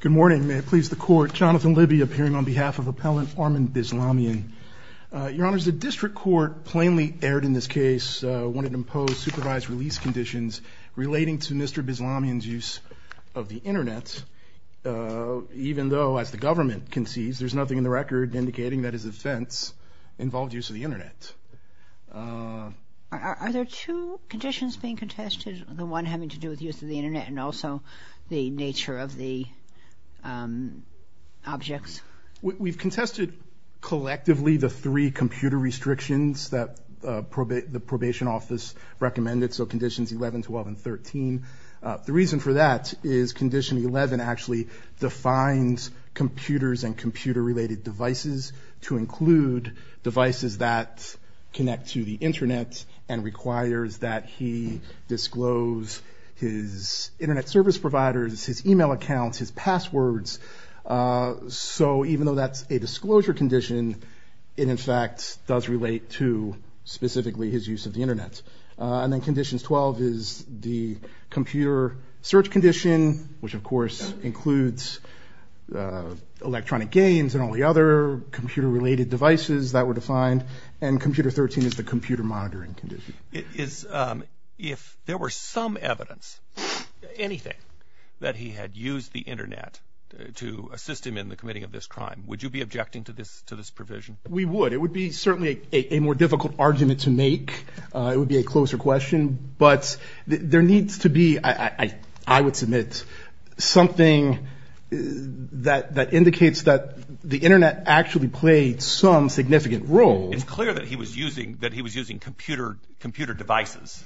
Good morning. May it please the court, Jonathan Libby appearing on behalf of appellant Armen Bislamian. Your Honor, the district court plainly aired in this case wanted to impose supervised release conditions relating to Mr. Bislamian's use of the Internet, even though as the government concedes there's nothing in the record indicating that his offense involved use of the Internet. Are there two conditions being contested? The one having to do with use of the Internet and also the nature of the objects? We've contested collectively the three computer restrictions that the probation office recommended, so conditions 11, 12, and 13. The reason for that is condition 11 actually defines computers and computer-related devices to include devices that connect to the Internet service providers, his email accounts, his passwords, so even though that's a disclosure condition, it in fact does relate to specifically his use of the Internet. And then conditions 12 is the computer search condition, which of course includes electronic games and all the other computer-related devices that were defined, and computer 13 is the computer monitoring condition. If there were some evidence, anything, that he had used the Internet to assist him in the committing of this crime, would you be objecting to this to this provision? We would. It would be certainly a more difficult argument to make. It would be a closer question, but there needs to be, I would submit, something that indicates that the Internet actually played some significant role. It's clear that he was using computer devices,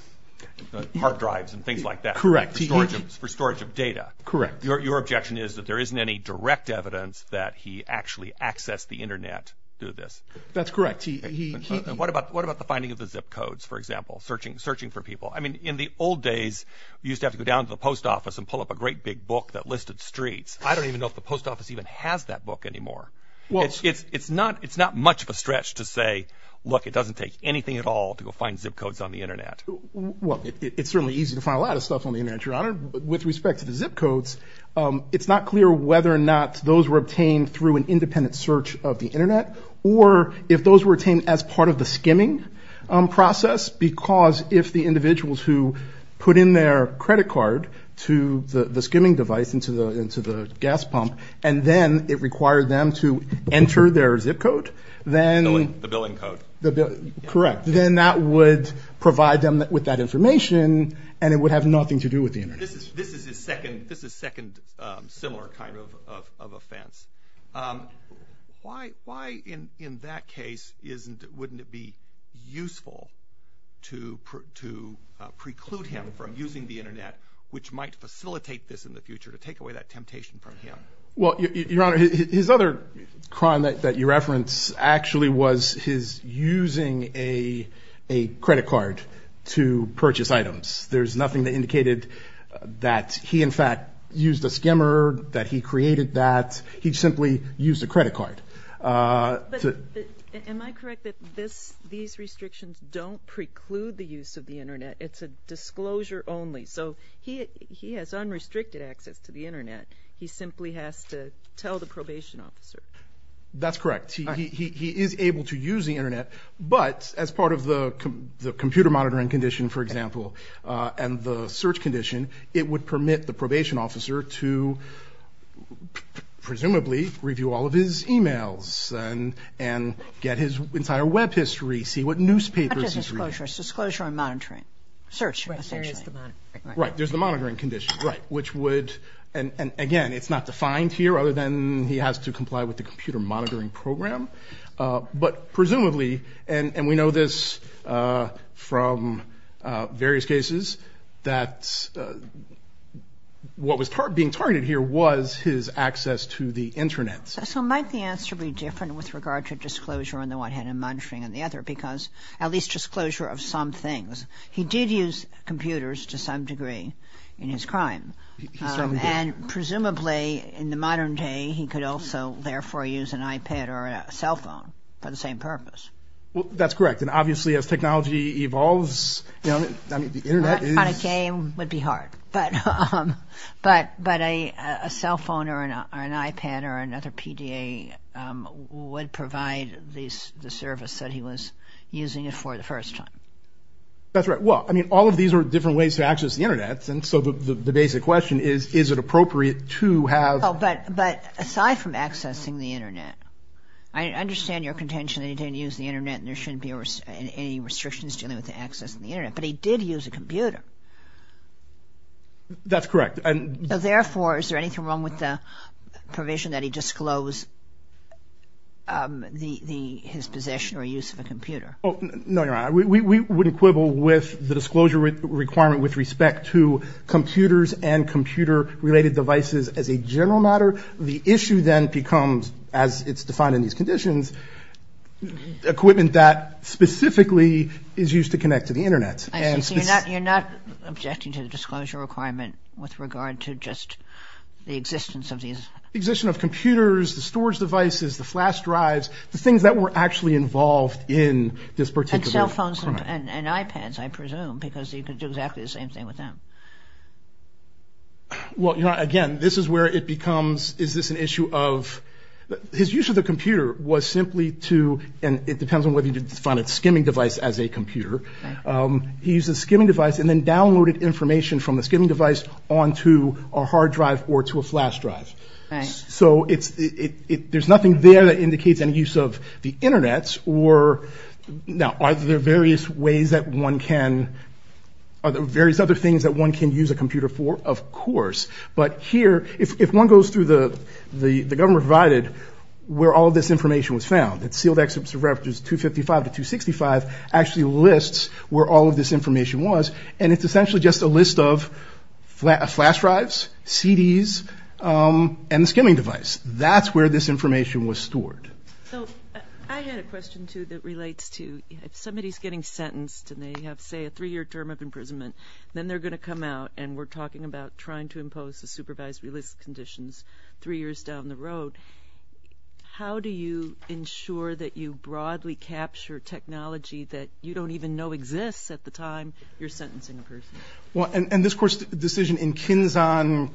hard drives and things like that, for storage of data. Correct. Your objection is that there isn't any direct evidence that he actually accessed the Internet to do this. That's correct. What about the finding of the zip codes, for example, searching for people? I mean, in the old days, you used to have to go down to the post office and pull up a great big book that listed streets. I don't even know if the post office even has that book anymore. It's not much of a stretch to say, look, it doesn't take anything at all to go find zip codes on the Internet. Well, it's certainly easy to find a lot of stuff on the Internet, Your Honor. With respect to the zip codes, it's not clear whether or not those were obtained through an independent search of the Internet or if those were obtained as part of the skimming process, because if the individuals who put in their credit card to the skimming device into the gas pump, and then it required them to enter their zip code, then... The billing code. Correct. Then that would provide them with that information, and it would have nothing to do with the Internet. This is his second similar kind of offense. Why, in that case, wouldn't it be useful to preclude him from using the Internet, which might facilitate this in the future, to take away that Well, Your Honor, his other crime that you reference actually was his using a credit card to purchase items. There's nothing that indicated that he, in fact, used a skimmer, that he created that. He simply used a credit card. Am I correct that these restrictions don't preclude the use of the Internet? It's a disclosure only. So he has unrestricted access to the Internet. He simply has to tell the probation officer. That's correct. He is able to use the Internet, but as part of the computer monitoring condition, for example, and the search condition, it would permit the probation officer to presumably review all of his emails and get his entire web history, see what newspapers he's reading. Not just disclosure. Disclosure and monitoring. Search, essentially. Right. There's the monitoring condition. Right. Which would, and again, it's not defined here, other than he has to comply with the computer monitoring program. But presumably, and we know this from various cases, that what was being targeted here was his access to the Internet. So might the answer be different with regard to disclosure on the one hand and monitoring on the other, because at least disclosure of some things. He did use computers to some degree in his crime. He certainly did. And presumably in the modern day, he could also therefore use an iPad or a cell phone for the same purpose. Well, that's correct. And obviously, as technology evolves, I mean, the Internet is... On a game would be hard. But a cell phone or an iPad or another PDA would provide the service that he was using it for the first time. That's right. Well, I mean, all of these are different ways to access the Internet. And so the basic question is, is it appropriate to have... Oh, but, but aside from accessing the Internet, I understand your contention that he didn't use the Internet and there shouldn't be any restrictions dealing with the access to the Internet. But he did use a computer. That's correct. And therefore, is there anything wrong with the provision that he disclosed his possession or use of a computer? No, Your Honor. We wouldn't quibble with the disclosure requirement with respect to computers and computer-related devices as a general matter. The issue then becomes, as it's defined in these conditions, equipment that specifically is used to connect to the Internet. I see. So you're not objecting to the disclosure requirement with regard to just the existence of these... The existence of computers, the storage devices, the flash drives, the things that were actually involved in this particular crime. And cell phones and iPads, I presume, because you could do exactly the same thing with them. Well, Your Honor, again, this is where it becomes, is this an issue of... His use of the computer was simply to, and it depends on whether you define it skimming device as a computer. He used a skimming device and then downloaded information from the skimming device onto a hard drive or to a flash drive. So there's nothing there that indicates any use of the Internet or... Now, are there various ways that one can... Are there various other things that one can use a computer for? Of course. But here, if one goes through the government provided, where all this information was found, it's sealed excerpts of references 255 to 265, actually lists where all of this information was. And it's essentially just a list of flash drives, CDs, and the skimming device. That's where this information was stored. So I had a question too that relates to, if somebody's getting sentenced and they have, say, a three year term of imprisonment, then they're gonna come out and we're talking about trying to impose the supervisory list conditions three years down the road. How do you ensure that you broadly capture technology that you don't even know exists at the time you're sentencing a person? Well, and this decision in Kinzon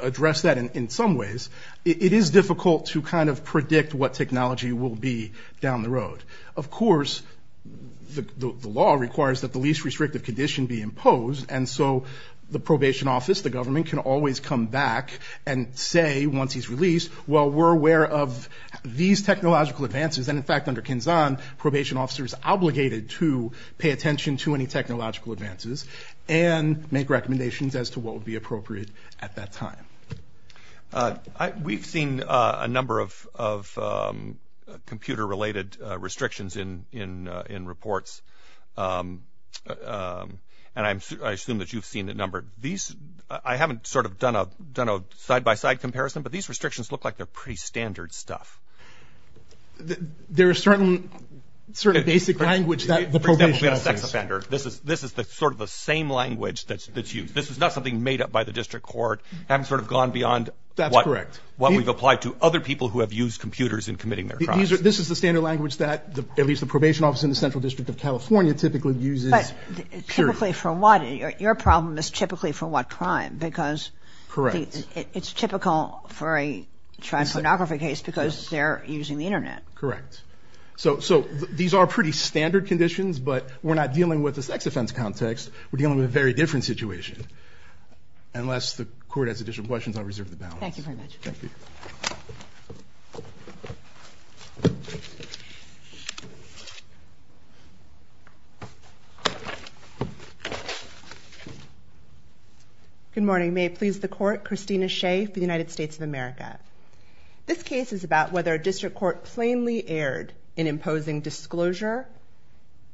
addressed that in some ways. It is difficult to predict what technology will be down the road. Of course, the law requires that the least restrictive condition be imposed, and so the probation office, the government, can always come back and say, once he's released, well, we're aware of these technological advances. And in fact, under Kinzon, probation officers are obligated to pay attention to any technological advances and make recommendations as to what would be appropriate at that time. We've seen a number of computer related restrictions in reports, and I assume that you've seen a number. I haven't done a side by side comparison, but these restrictions look like they're pretty standard stuff. There are certain basic language that the probation office... We've got a sex offender. This is sort of the same language that's used. This is not something made up by the district court. I haven't sort of gone beyond what we've applied to other people who have used computers in committing their crimes. This is the standard language that at least the probation office in the Central District of California typically uses. But typically for what? Your problem is typically for what crime? Because it's typical for a child pornography case because they're using the internet. Correct. So these are pretty standard conditions, but we're not dealing with a sex offense context. We're dealing with a very different situation. Unless the court has additional questions, I'll reserve the balance. Thank you very much. Thank you. Good morning. May it please the court. Christina Shea for the United States of America. This case is about whether a district court plainly erred in imposing disclosure,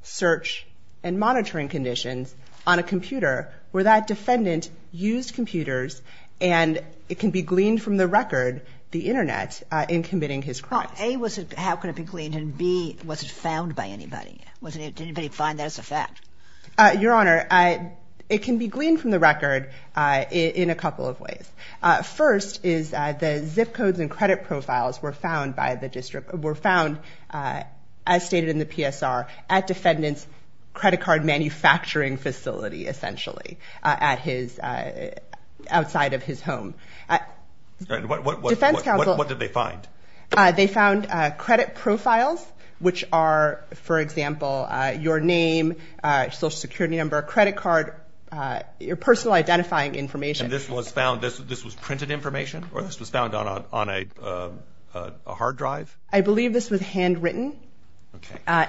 search, and monitoring conditions on a computer where that defendant used computers and it can be gleaned from the record, the internet, in committing his crimes. A, how could it be gleaned? And B, was it found by anybody? Did anybody find that as a fact? Your Honor, it can be gleaned from the record in a couple of ways. First is the zip codes and credit cards, as stated in the PSR, at defendant's credit card manufacturing facility, essentially, outside of his home. Defense counsel... What did they find? They found credit profiles, which are, for example, your name, Social Security number, credit card, your personal identifying information. And this was found... This was printed information or this was found on a hard drive? I believe this was handwritten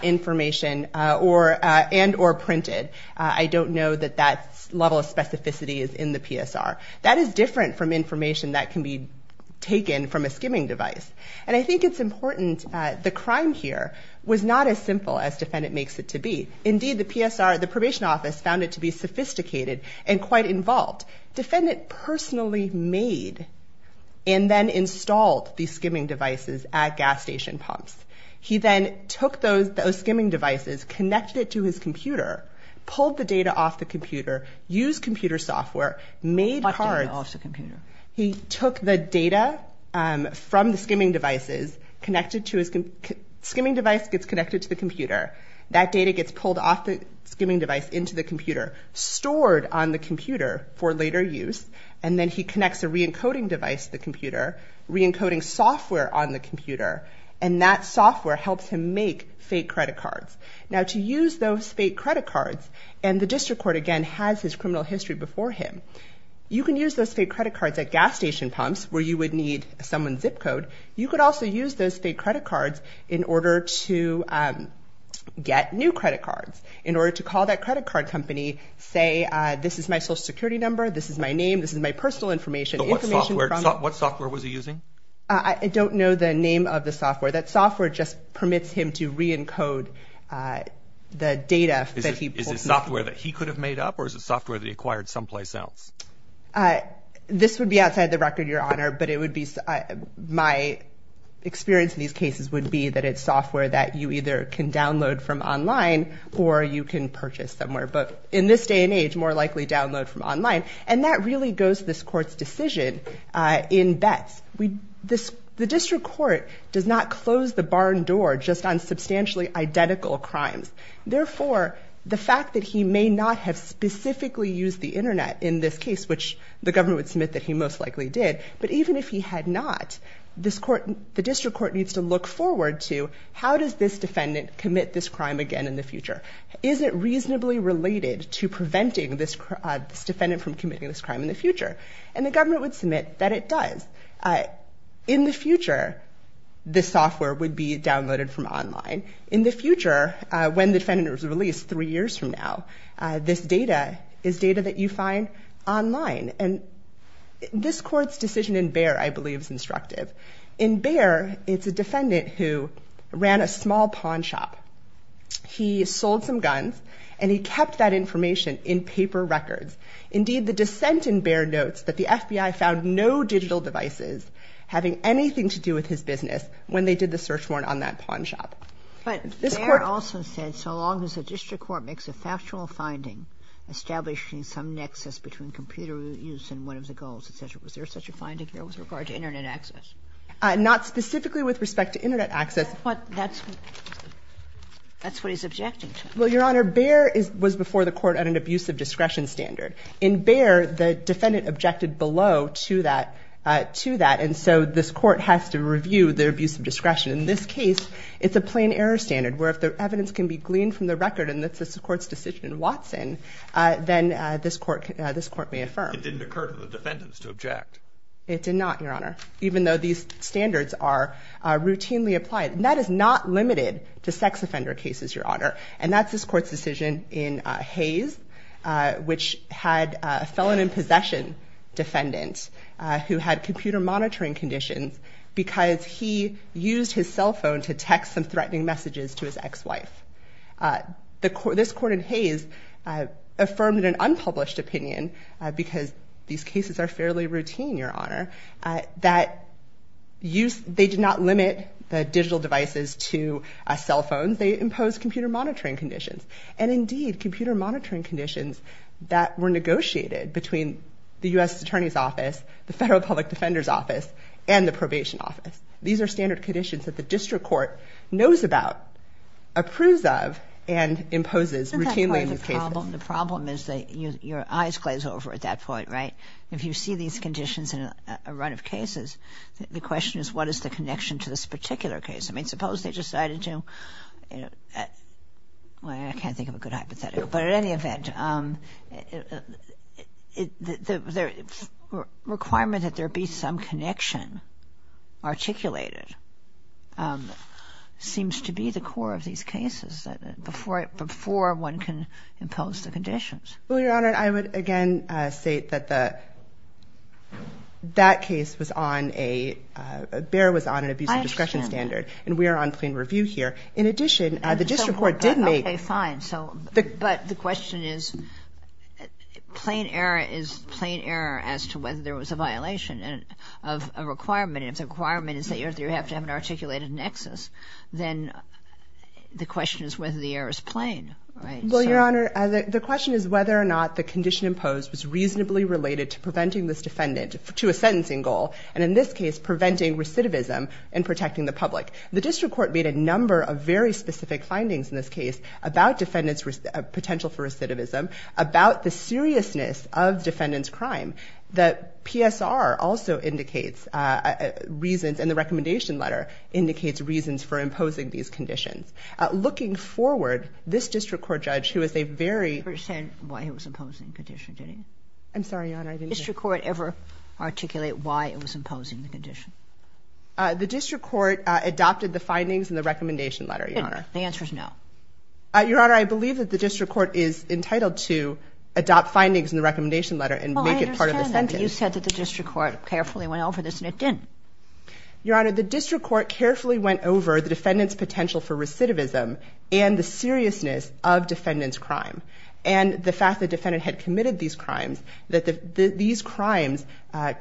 information and or printed. I don't know that that level of specificity is in the PSR. That is different from information that can be taken from a skimming device. And I think it's important, the crime here was not as simple as defendant makes it to be. Indeed, the PSR, the probation office found it to be sophisticated and quite involved. Defendant personally made and then installed these skimming devices at gas station pumps. He then took those skimming devices, connected it to his computer, pulled the data off the computer, used computer software, made cards... What data off the computer? He took the data from the skimming devices, connected to his... Skimming device gets connected to the computer. That data gets pulled off the skimming device into the computer, and then he connects a re encoding device to the computer, re encoding software on the computer, and that software helps him make fake credit cards. Now, to use those fake credit cards, and the district court again has his criminal history before him, you can use those fake credit cards at gas station pumps where you would need someone's zip code. You could also use those fake credit cards in order to get new credit cards, in order to call that credit card company, say, this is my social security number, this is my name, this is my personal information. But what software was he using? I don't know the name of the software. That software just permits him to re encode the data that he... Is it software that he could have made up or is it software that he acquired someplace else? This would be outside the record, Your Honor, but it would be... My experience in these cases would be that it's software that you either can download from online or you can purchase somewhere. But in this day and age, more likely download from online, and that really goes to this court's decision in bets. The district court does not close the barn door just on substantially identical crimes. Therefore, the fact that he may not have specifically used the internet in this case, which the government would submit that he most likely did, but even if he had not, the district court needs to look forward to how does this defendant commit this crime again in the future? Is it reasonably related to preventing this defendant from committing this crime in the future? And the government would submit that it does. In the future, this software would be downloaded from online. In the future, when the defendant is released three years from now, this data is data that you find online. And this court's decision in Bexar, I believe is instructive. In Bexar, it's a defendant who ran a small pawn shop. He sold some guns and he kept that information in paper records. Indeed, the dissent in Bexar notes that the FBI found no digital devices having anything to do with his business when they did the search warrant on that pawn shop. But Bexar also said, so long as the district court makes a factual finding establishing some nexus between computer use and one of the goals, etc. Was there such a finding there with regard to internet access? Not specifically with respect to internet access. But that's what he's objecting to. Well, Your Honor, Bexar was before the court at an abusive discretion standard. In Bexar, the defendant objected below to that. And so this court has to review their abusive discretion. In this case, it's a plain error standard where if the evidence can be gleaned from the record and that's the court's decision in Watson, then this court may affirm. It didn't occur to the defendants to object. It did not, Your Honor, even though these routinely applied. And that is not limited to sex offender cases, Your Honor. And that's this court's decision in Hayes, which had a felon in possession defendant who had computer monitoring conditions because he used his cell phone to text some threatening messages to his ex wife. This court in Hayes affirmed in an unpublished opinion, because these do not limit the digital devices to cell phones, they impose computer monitoring conditions. And indeed, computer monitoring conditions that were negotiated between the U.S. Attorney's Office, the Federal Public Defender's Office, and the Probation Office. These are standard conditions that the district court knows about, approves of, and imposes routinely in these cases. The problem is that your eyes glaze over at that point, right? If you see these conditions in a run of cases, the question is, what is the connection to this particular case? I mean, suppose they decided to, I can't think of a good hypothetical, but at any event, the requirement that there be some connection articulated seems to be the core of these cases before one can impose the conditions. Well, Your Honor, I would again state that that case was on a, BEAR was on an abuse of discretion standard, and we are on plain review here. In addition, the district court did make... Okay, fine. So, but the question is, plain error is plain error as to whether there was a violation of a requirement. And if the requirement is that you have to have an articulated nexus, then the question is whether the error is plain, right? Well, Your Honor, the question is whether or not the condition imposed was reasonably related to preventing this defendant to a sentencing goal, and in this case, preventing recidivism and protecting the public. The district court made a number of very specific findings in this case about defendants' potential for recidivism, about the seriousness of defendant's crime. The PSR also indicates reasons, and the recommendation letter indicates reasons for imposing these conditions. Looking forward, this district court judge, who is a very... You didn't understand why he was imposing the condition, did you? I'm sorry, Your Honor, I didn't... Did the district court ever articulate why it was imposing the condition? The district court adopted the findings in the recommendation letter, Your Honor. The answer is no. Your Honor, I believe that the district court is entitled to adopt findings in the recommendation letter and make it part of the sentence. Well, I understand that, but you said that the district court carefully went over this, and it didn't. Your Honor, the district court carefully went over the defendant's potential for recidivism and the seriousness of defendant's crime, and the fact that the crimes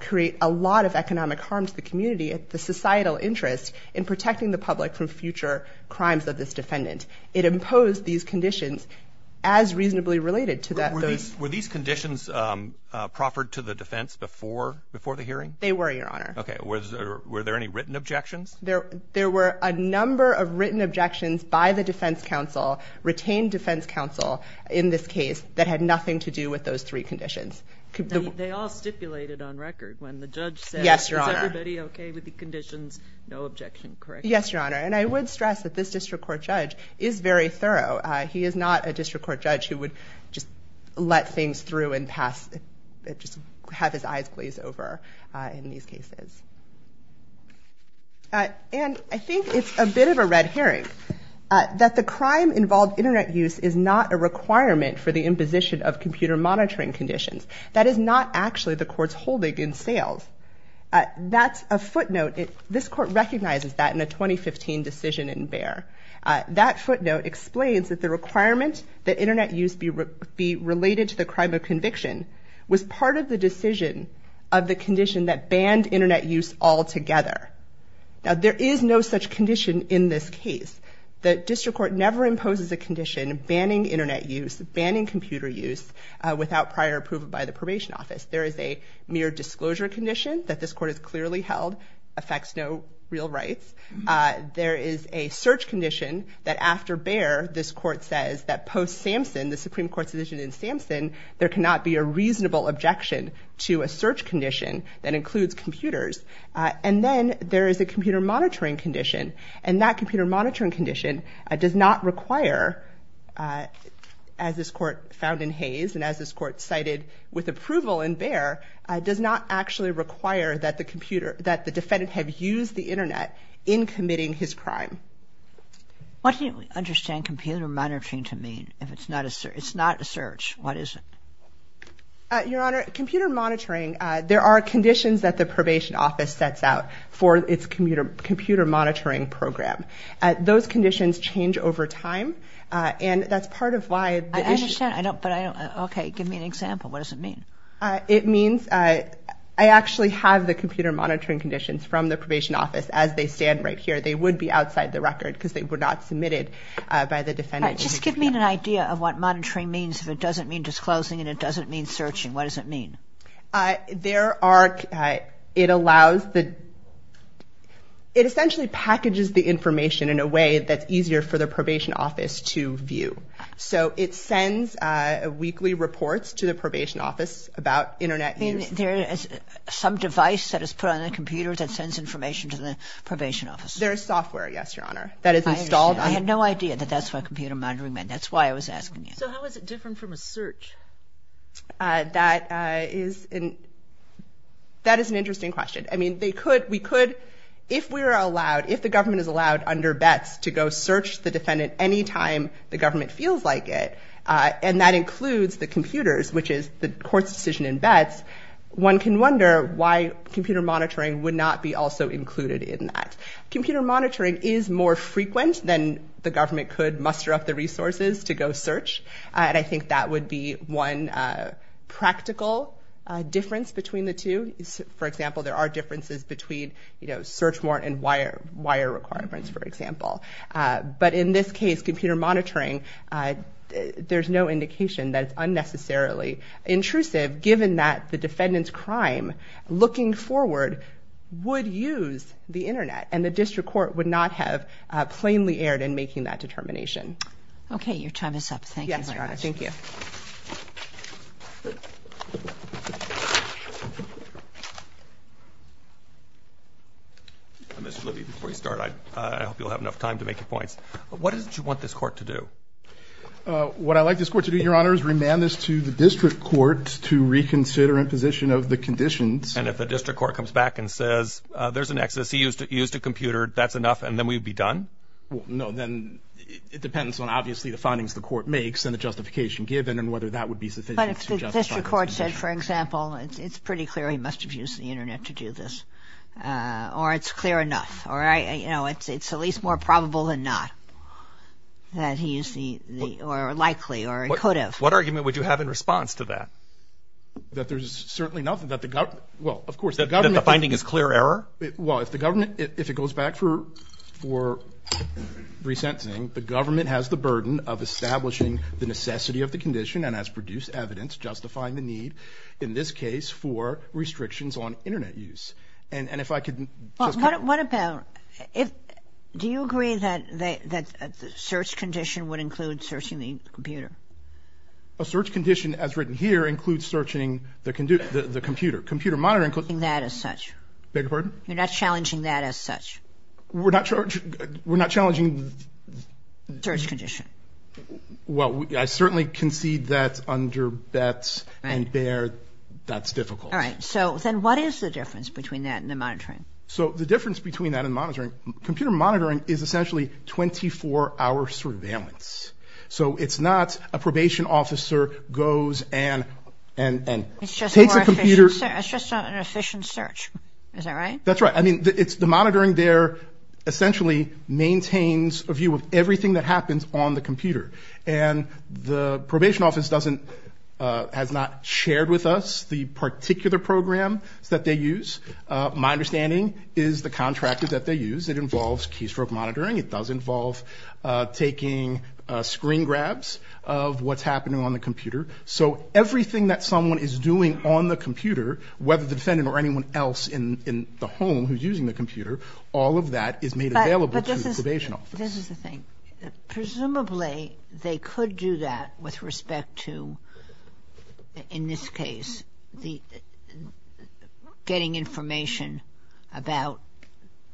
create a lot of economic harm to the community and the societal interest in protecting the public from future crimes of this defendant. It imposed these conditions as reasonably related to those... Were these conditions proffered to the defense before the hearing? They were, Your Honor. Okay. Were there any written objections? There were a number of written objections by the defense counsel, retained defense counsel, in this case, that had nothing to do with those three conditions. They all stipulated on record when the judge said, Yes, Your Honor. Is everybody okay with the conditions? No objection, correct? Yes, Your Honor, and I would stress that this district court judge is very thorough. He is not a district court judge who would just let things through and pass, just have his eyes glazed over in these cases. And I think it's a bit of a red herring that the crime-involved internet use is not a requirement for the imposition of computer monitoring conditions. That is not actually the court's holding in sales. That's a footnote. This court recognizes that in a 2015 decision in Bayer. That footnote explains that the requirement that internet use be related to the crime of conviction was part of the decision of the condition that banned internet use altogether. Now, there is no such condition in this case. The district court never imposes a condition banning internet use, banning computer use without prior approval by the probation office. There is a mere disclosure condition that this court has clearly held affects no real rights. There is a search condition that after Bayer, this court says that post Samson, the Supreme Court's decision in Samson, there cannot be a reasonable objection to a search condition that includes computers. And then there is a computer monitoring condition. And that computer monitoring condition does not require, as this court found in Hayes and as this court cited with approval in Bayer, does not actually require that the defendant have used the internet in committing his crime. What do you understand computer monitoring to mean if it's not a search? What is it? Your Honor, computer monitoring, there are conditions that the probation office sets out for its computer monitoring program. Those conditions change over time. And that's part of why the issue... I understand, but I don't... Okay, give me an example. What does it mean? It means I actually have the computer monitoring conditions from the probation office as they stand right here. They would be outside the record because they were not submitted by the defendant. Just give me an idea of what monitoring means if it doesn't mean disclosing and it doesn't mean searching. What does it mean? There are... It allows the... It essentially packages the information in a way that's easier for the probation office to view. So it sends weekly reports to the probation office about internet use. There is some device that is put on the computer that sends information to the probation office. There is software, yes, Your Honor, that is installed on... I had no idea that that's what computer monitoring meant. That's why I was asking you. So how is it different from a search? That is an interesting question. I mean, they could... We could... If we're allowed... If the government is allowed under bets to go search the defendant any time the government feels like it, and that includes the computers, which is the court's decision in bets, one can wonder why computer monitoring would not be also included in that. Computer monitoring is more frequent than the government could muster up the resources to go search. And I think that would be one practical difference between the two. For example, there are differences between search warrant and wire requirements, for example. But in this case, computer monitoring, there's no indication that it's unnecessarily intrusive given that the defendant's crime looking forward would use the internet, and the district court would not have plainly erred in making that determination. Okay, your time is up. Thank you, Your Honor. Yes, Your Honor. Thank you. Mr. Libby, before you start, I hope you'll have enough time to make your points. What is it you want this court to do? What I'd like this court to do, Your Honor, is remand this to the district court to reconsider imposition of the conditions. And if the district court comes back and says, there's an excess, he used a computer, that's enough, and then we'd be done? No, then it depends on, obviously, the findings the court makes, and the justification given, and whether that would be sufficient to justify this condition. But if the district court said, for example, it's pretty clear he must have used the internet to do this, or it's clear enough, or it's at least more probable than not that he used the, or likely, or he could have. What argument would you have in response to that? That there's certainly nothing that the government, well, of course, the government... That the finding is clear error? Well, if the government, if it goes back for resentencing, the government has the burden of establishing the necessity of the condition, and has produced evidence justifying the need, in this case, for restrictions on internet use. And if I could... What about, do you agree that the search condition would include searching the computer? A search condition, as written here, includes searching the computer. Computer monitoring... You're not challenging that as such? Beg your pardon? You're not challenging that as such? We're not... We're not challenging... The search condition. Well, I certainly concede that under Betz and Baird, that's difficult. All right. So then what is the difference between that and the monitoring? So the difference between that and monitoring, computer monitoring is essentially 24-hour surveillance. So it's not a probation officer goes and takes a computer... That's just not an efficient search. Is that right? That's right. I mean, it's the monitoring there essentially maintains a view of everything that happens on the computer. And the probation office doesn't, has not shared with us the particular program that they use. My understanding is the contractor that they use, it involves happening on the computer. So everything that someone is doing on the computer, whether the defendant or anyone else in the home who's using the computer, all of that is made available to the probation office. But this is the thing. Presumably, they could do that with respect to, in this case, getting information about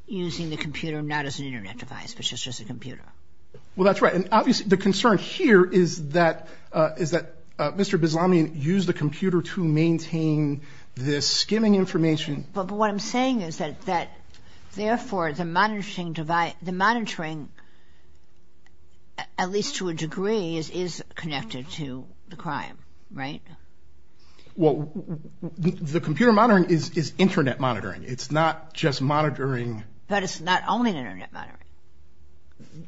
using the computer not as an internet device, but just as a computer. Well, that's right. And obviously the concern here is that Mr. Bizlamian used the computer to maintain this skimming information. But what I'm saying is that therefore the monitoring, at least to a degree, is connected to the crime, right? Well, the computer monitoring is internet monitoring. It's not just monitoring. But it's not only internet monitoring.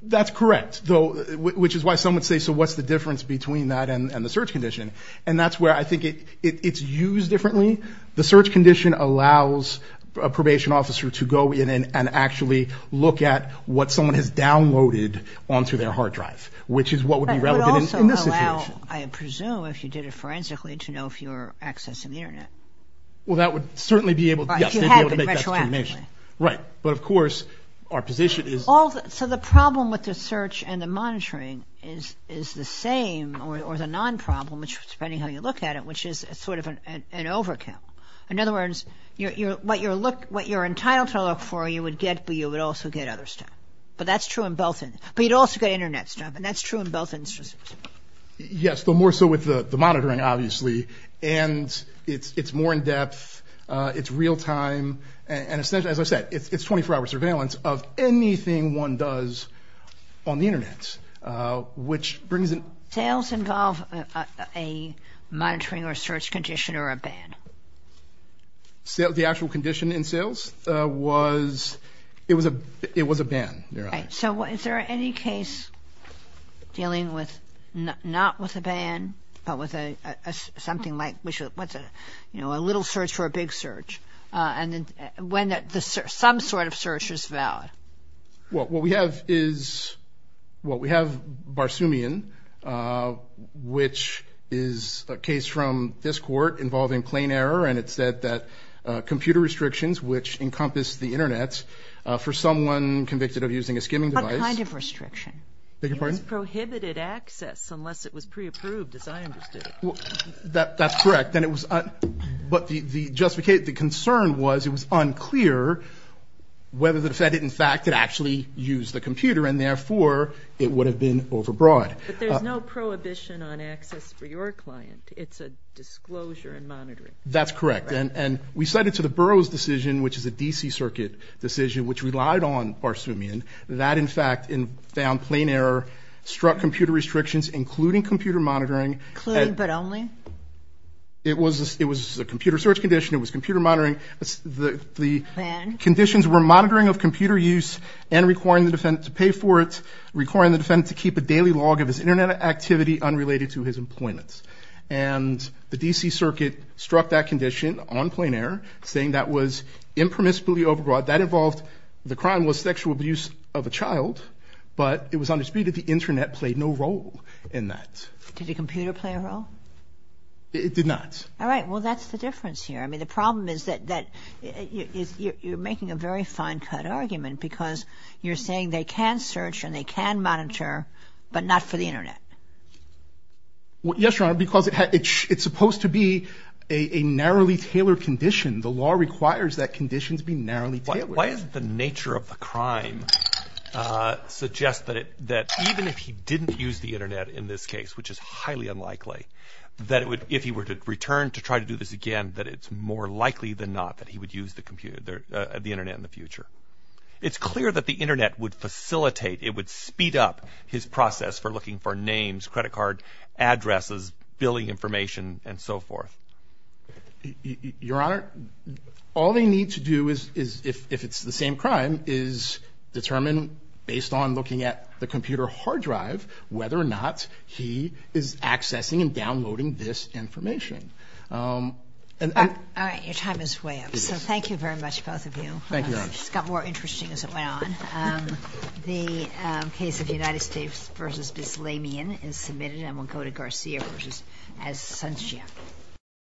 That's correct, which is why some would say, so what's the difference between that and the search condition? And that's where I think it's used differently. The search condition allows a probation officer to go in and actually look at what someone has downloaded onto their hard drive, which is what would be relevant in this situation. But it would also allow, I presume, if you did it forensically, to know if you're accessing the internet. Well, that would certainly be able to make that determination. Right. But of course, our position is... So the problem with the search and the monitoring is the same, or the non-problem, depending how you look at it, which is sort of an overkill. In other words, what you're entitled to look for, you would get, but you would also get other stuff. But that's true in both... But you'd also get internet stuff, and that's true in both instances. Yes, but more so with the monitoring, obviously. And it's more in-depth. It's real-time. And essentially, as I said, it's 24-hour surveillance of anything one does on the internet, which brings in... Sales involve a monitoring or search condition or a ban. The actual condition in sales was... It was a ban, Your Honor. So is there any case dealing with not with a ban, but with something like, what's a little search for a big search, and when some sort of search is valid? Well, what we have is... Well, we have Barsoomian, which is a case from this court involving plain error, and it said that computer restrictions, which encompass the internet, for someone convicted of using a skimming device... What kind of restriction? Beg your pardon? It was prohibited access unless it was pre-approved, as I understood it. That's correct. And it was... But the concern was it was unclear whether the defendant, in fact, had actually used the computer, and therefore, it would have been overbroad. But there's no prohibition on access for your client. It's a disclosure and monitoring. That's correct. And we cited to the Burroughs decision, which is a DC circuit decision, which relied on Barsoomian, that, in fact, found plain error, struck computer restrictions, including computer monitoring... But only? It was a computer search condition. It was computer monitoring. The conditions were monitoring of computer use and requiring the defendant to pay for it, requiring the defendant to keep a daily log of his internet activity unrelated to his employment. And the DC circuit struck that condition on plain error, saying that was impermissibly overbroad. That involved... The crime was sexual abuse of a child, but it was undisputed the internet played no role in that. Did the computer play a role? It did not. All right. Well, that's the difference here. I mean, the problem is that you're making a very fine-cut argument because you're saying they can search and they can monitor, but not for the internet. Well, yes, Your Honor, because it's supposed to be a narrowly tailored condition. The law requires that conditions be narrowly tailored. Why is it the nature of the crime suggests that even if he didn't use the internet, which is highly unlikely, that if he were to return to try to do this again, that it's more likely than not that he would use the internet in the future. It's clear that the internet would facilitate, it would speed up his process for looking for names, credit card addresses, billing information, and so forth. Your Honor, all they need to do is, if it's the same crime, is determine based on looking at the computer hard drive whether or not he is accessing and downloading this information. All right. Your time is way up. So thank you very much, both of you. Thank you, Your Honor. It just got more interesting as it went on. The case of United States v. Bislamian is submitted, and we'll go to Garcia v. Asuncion.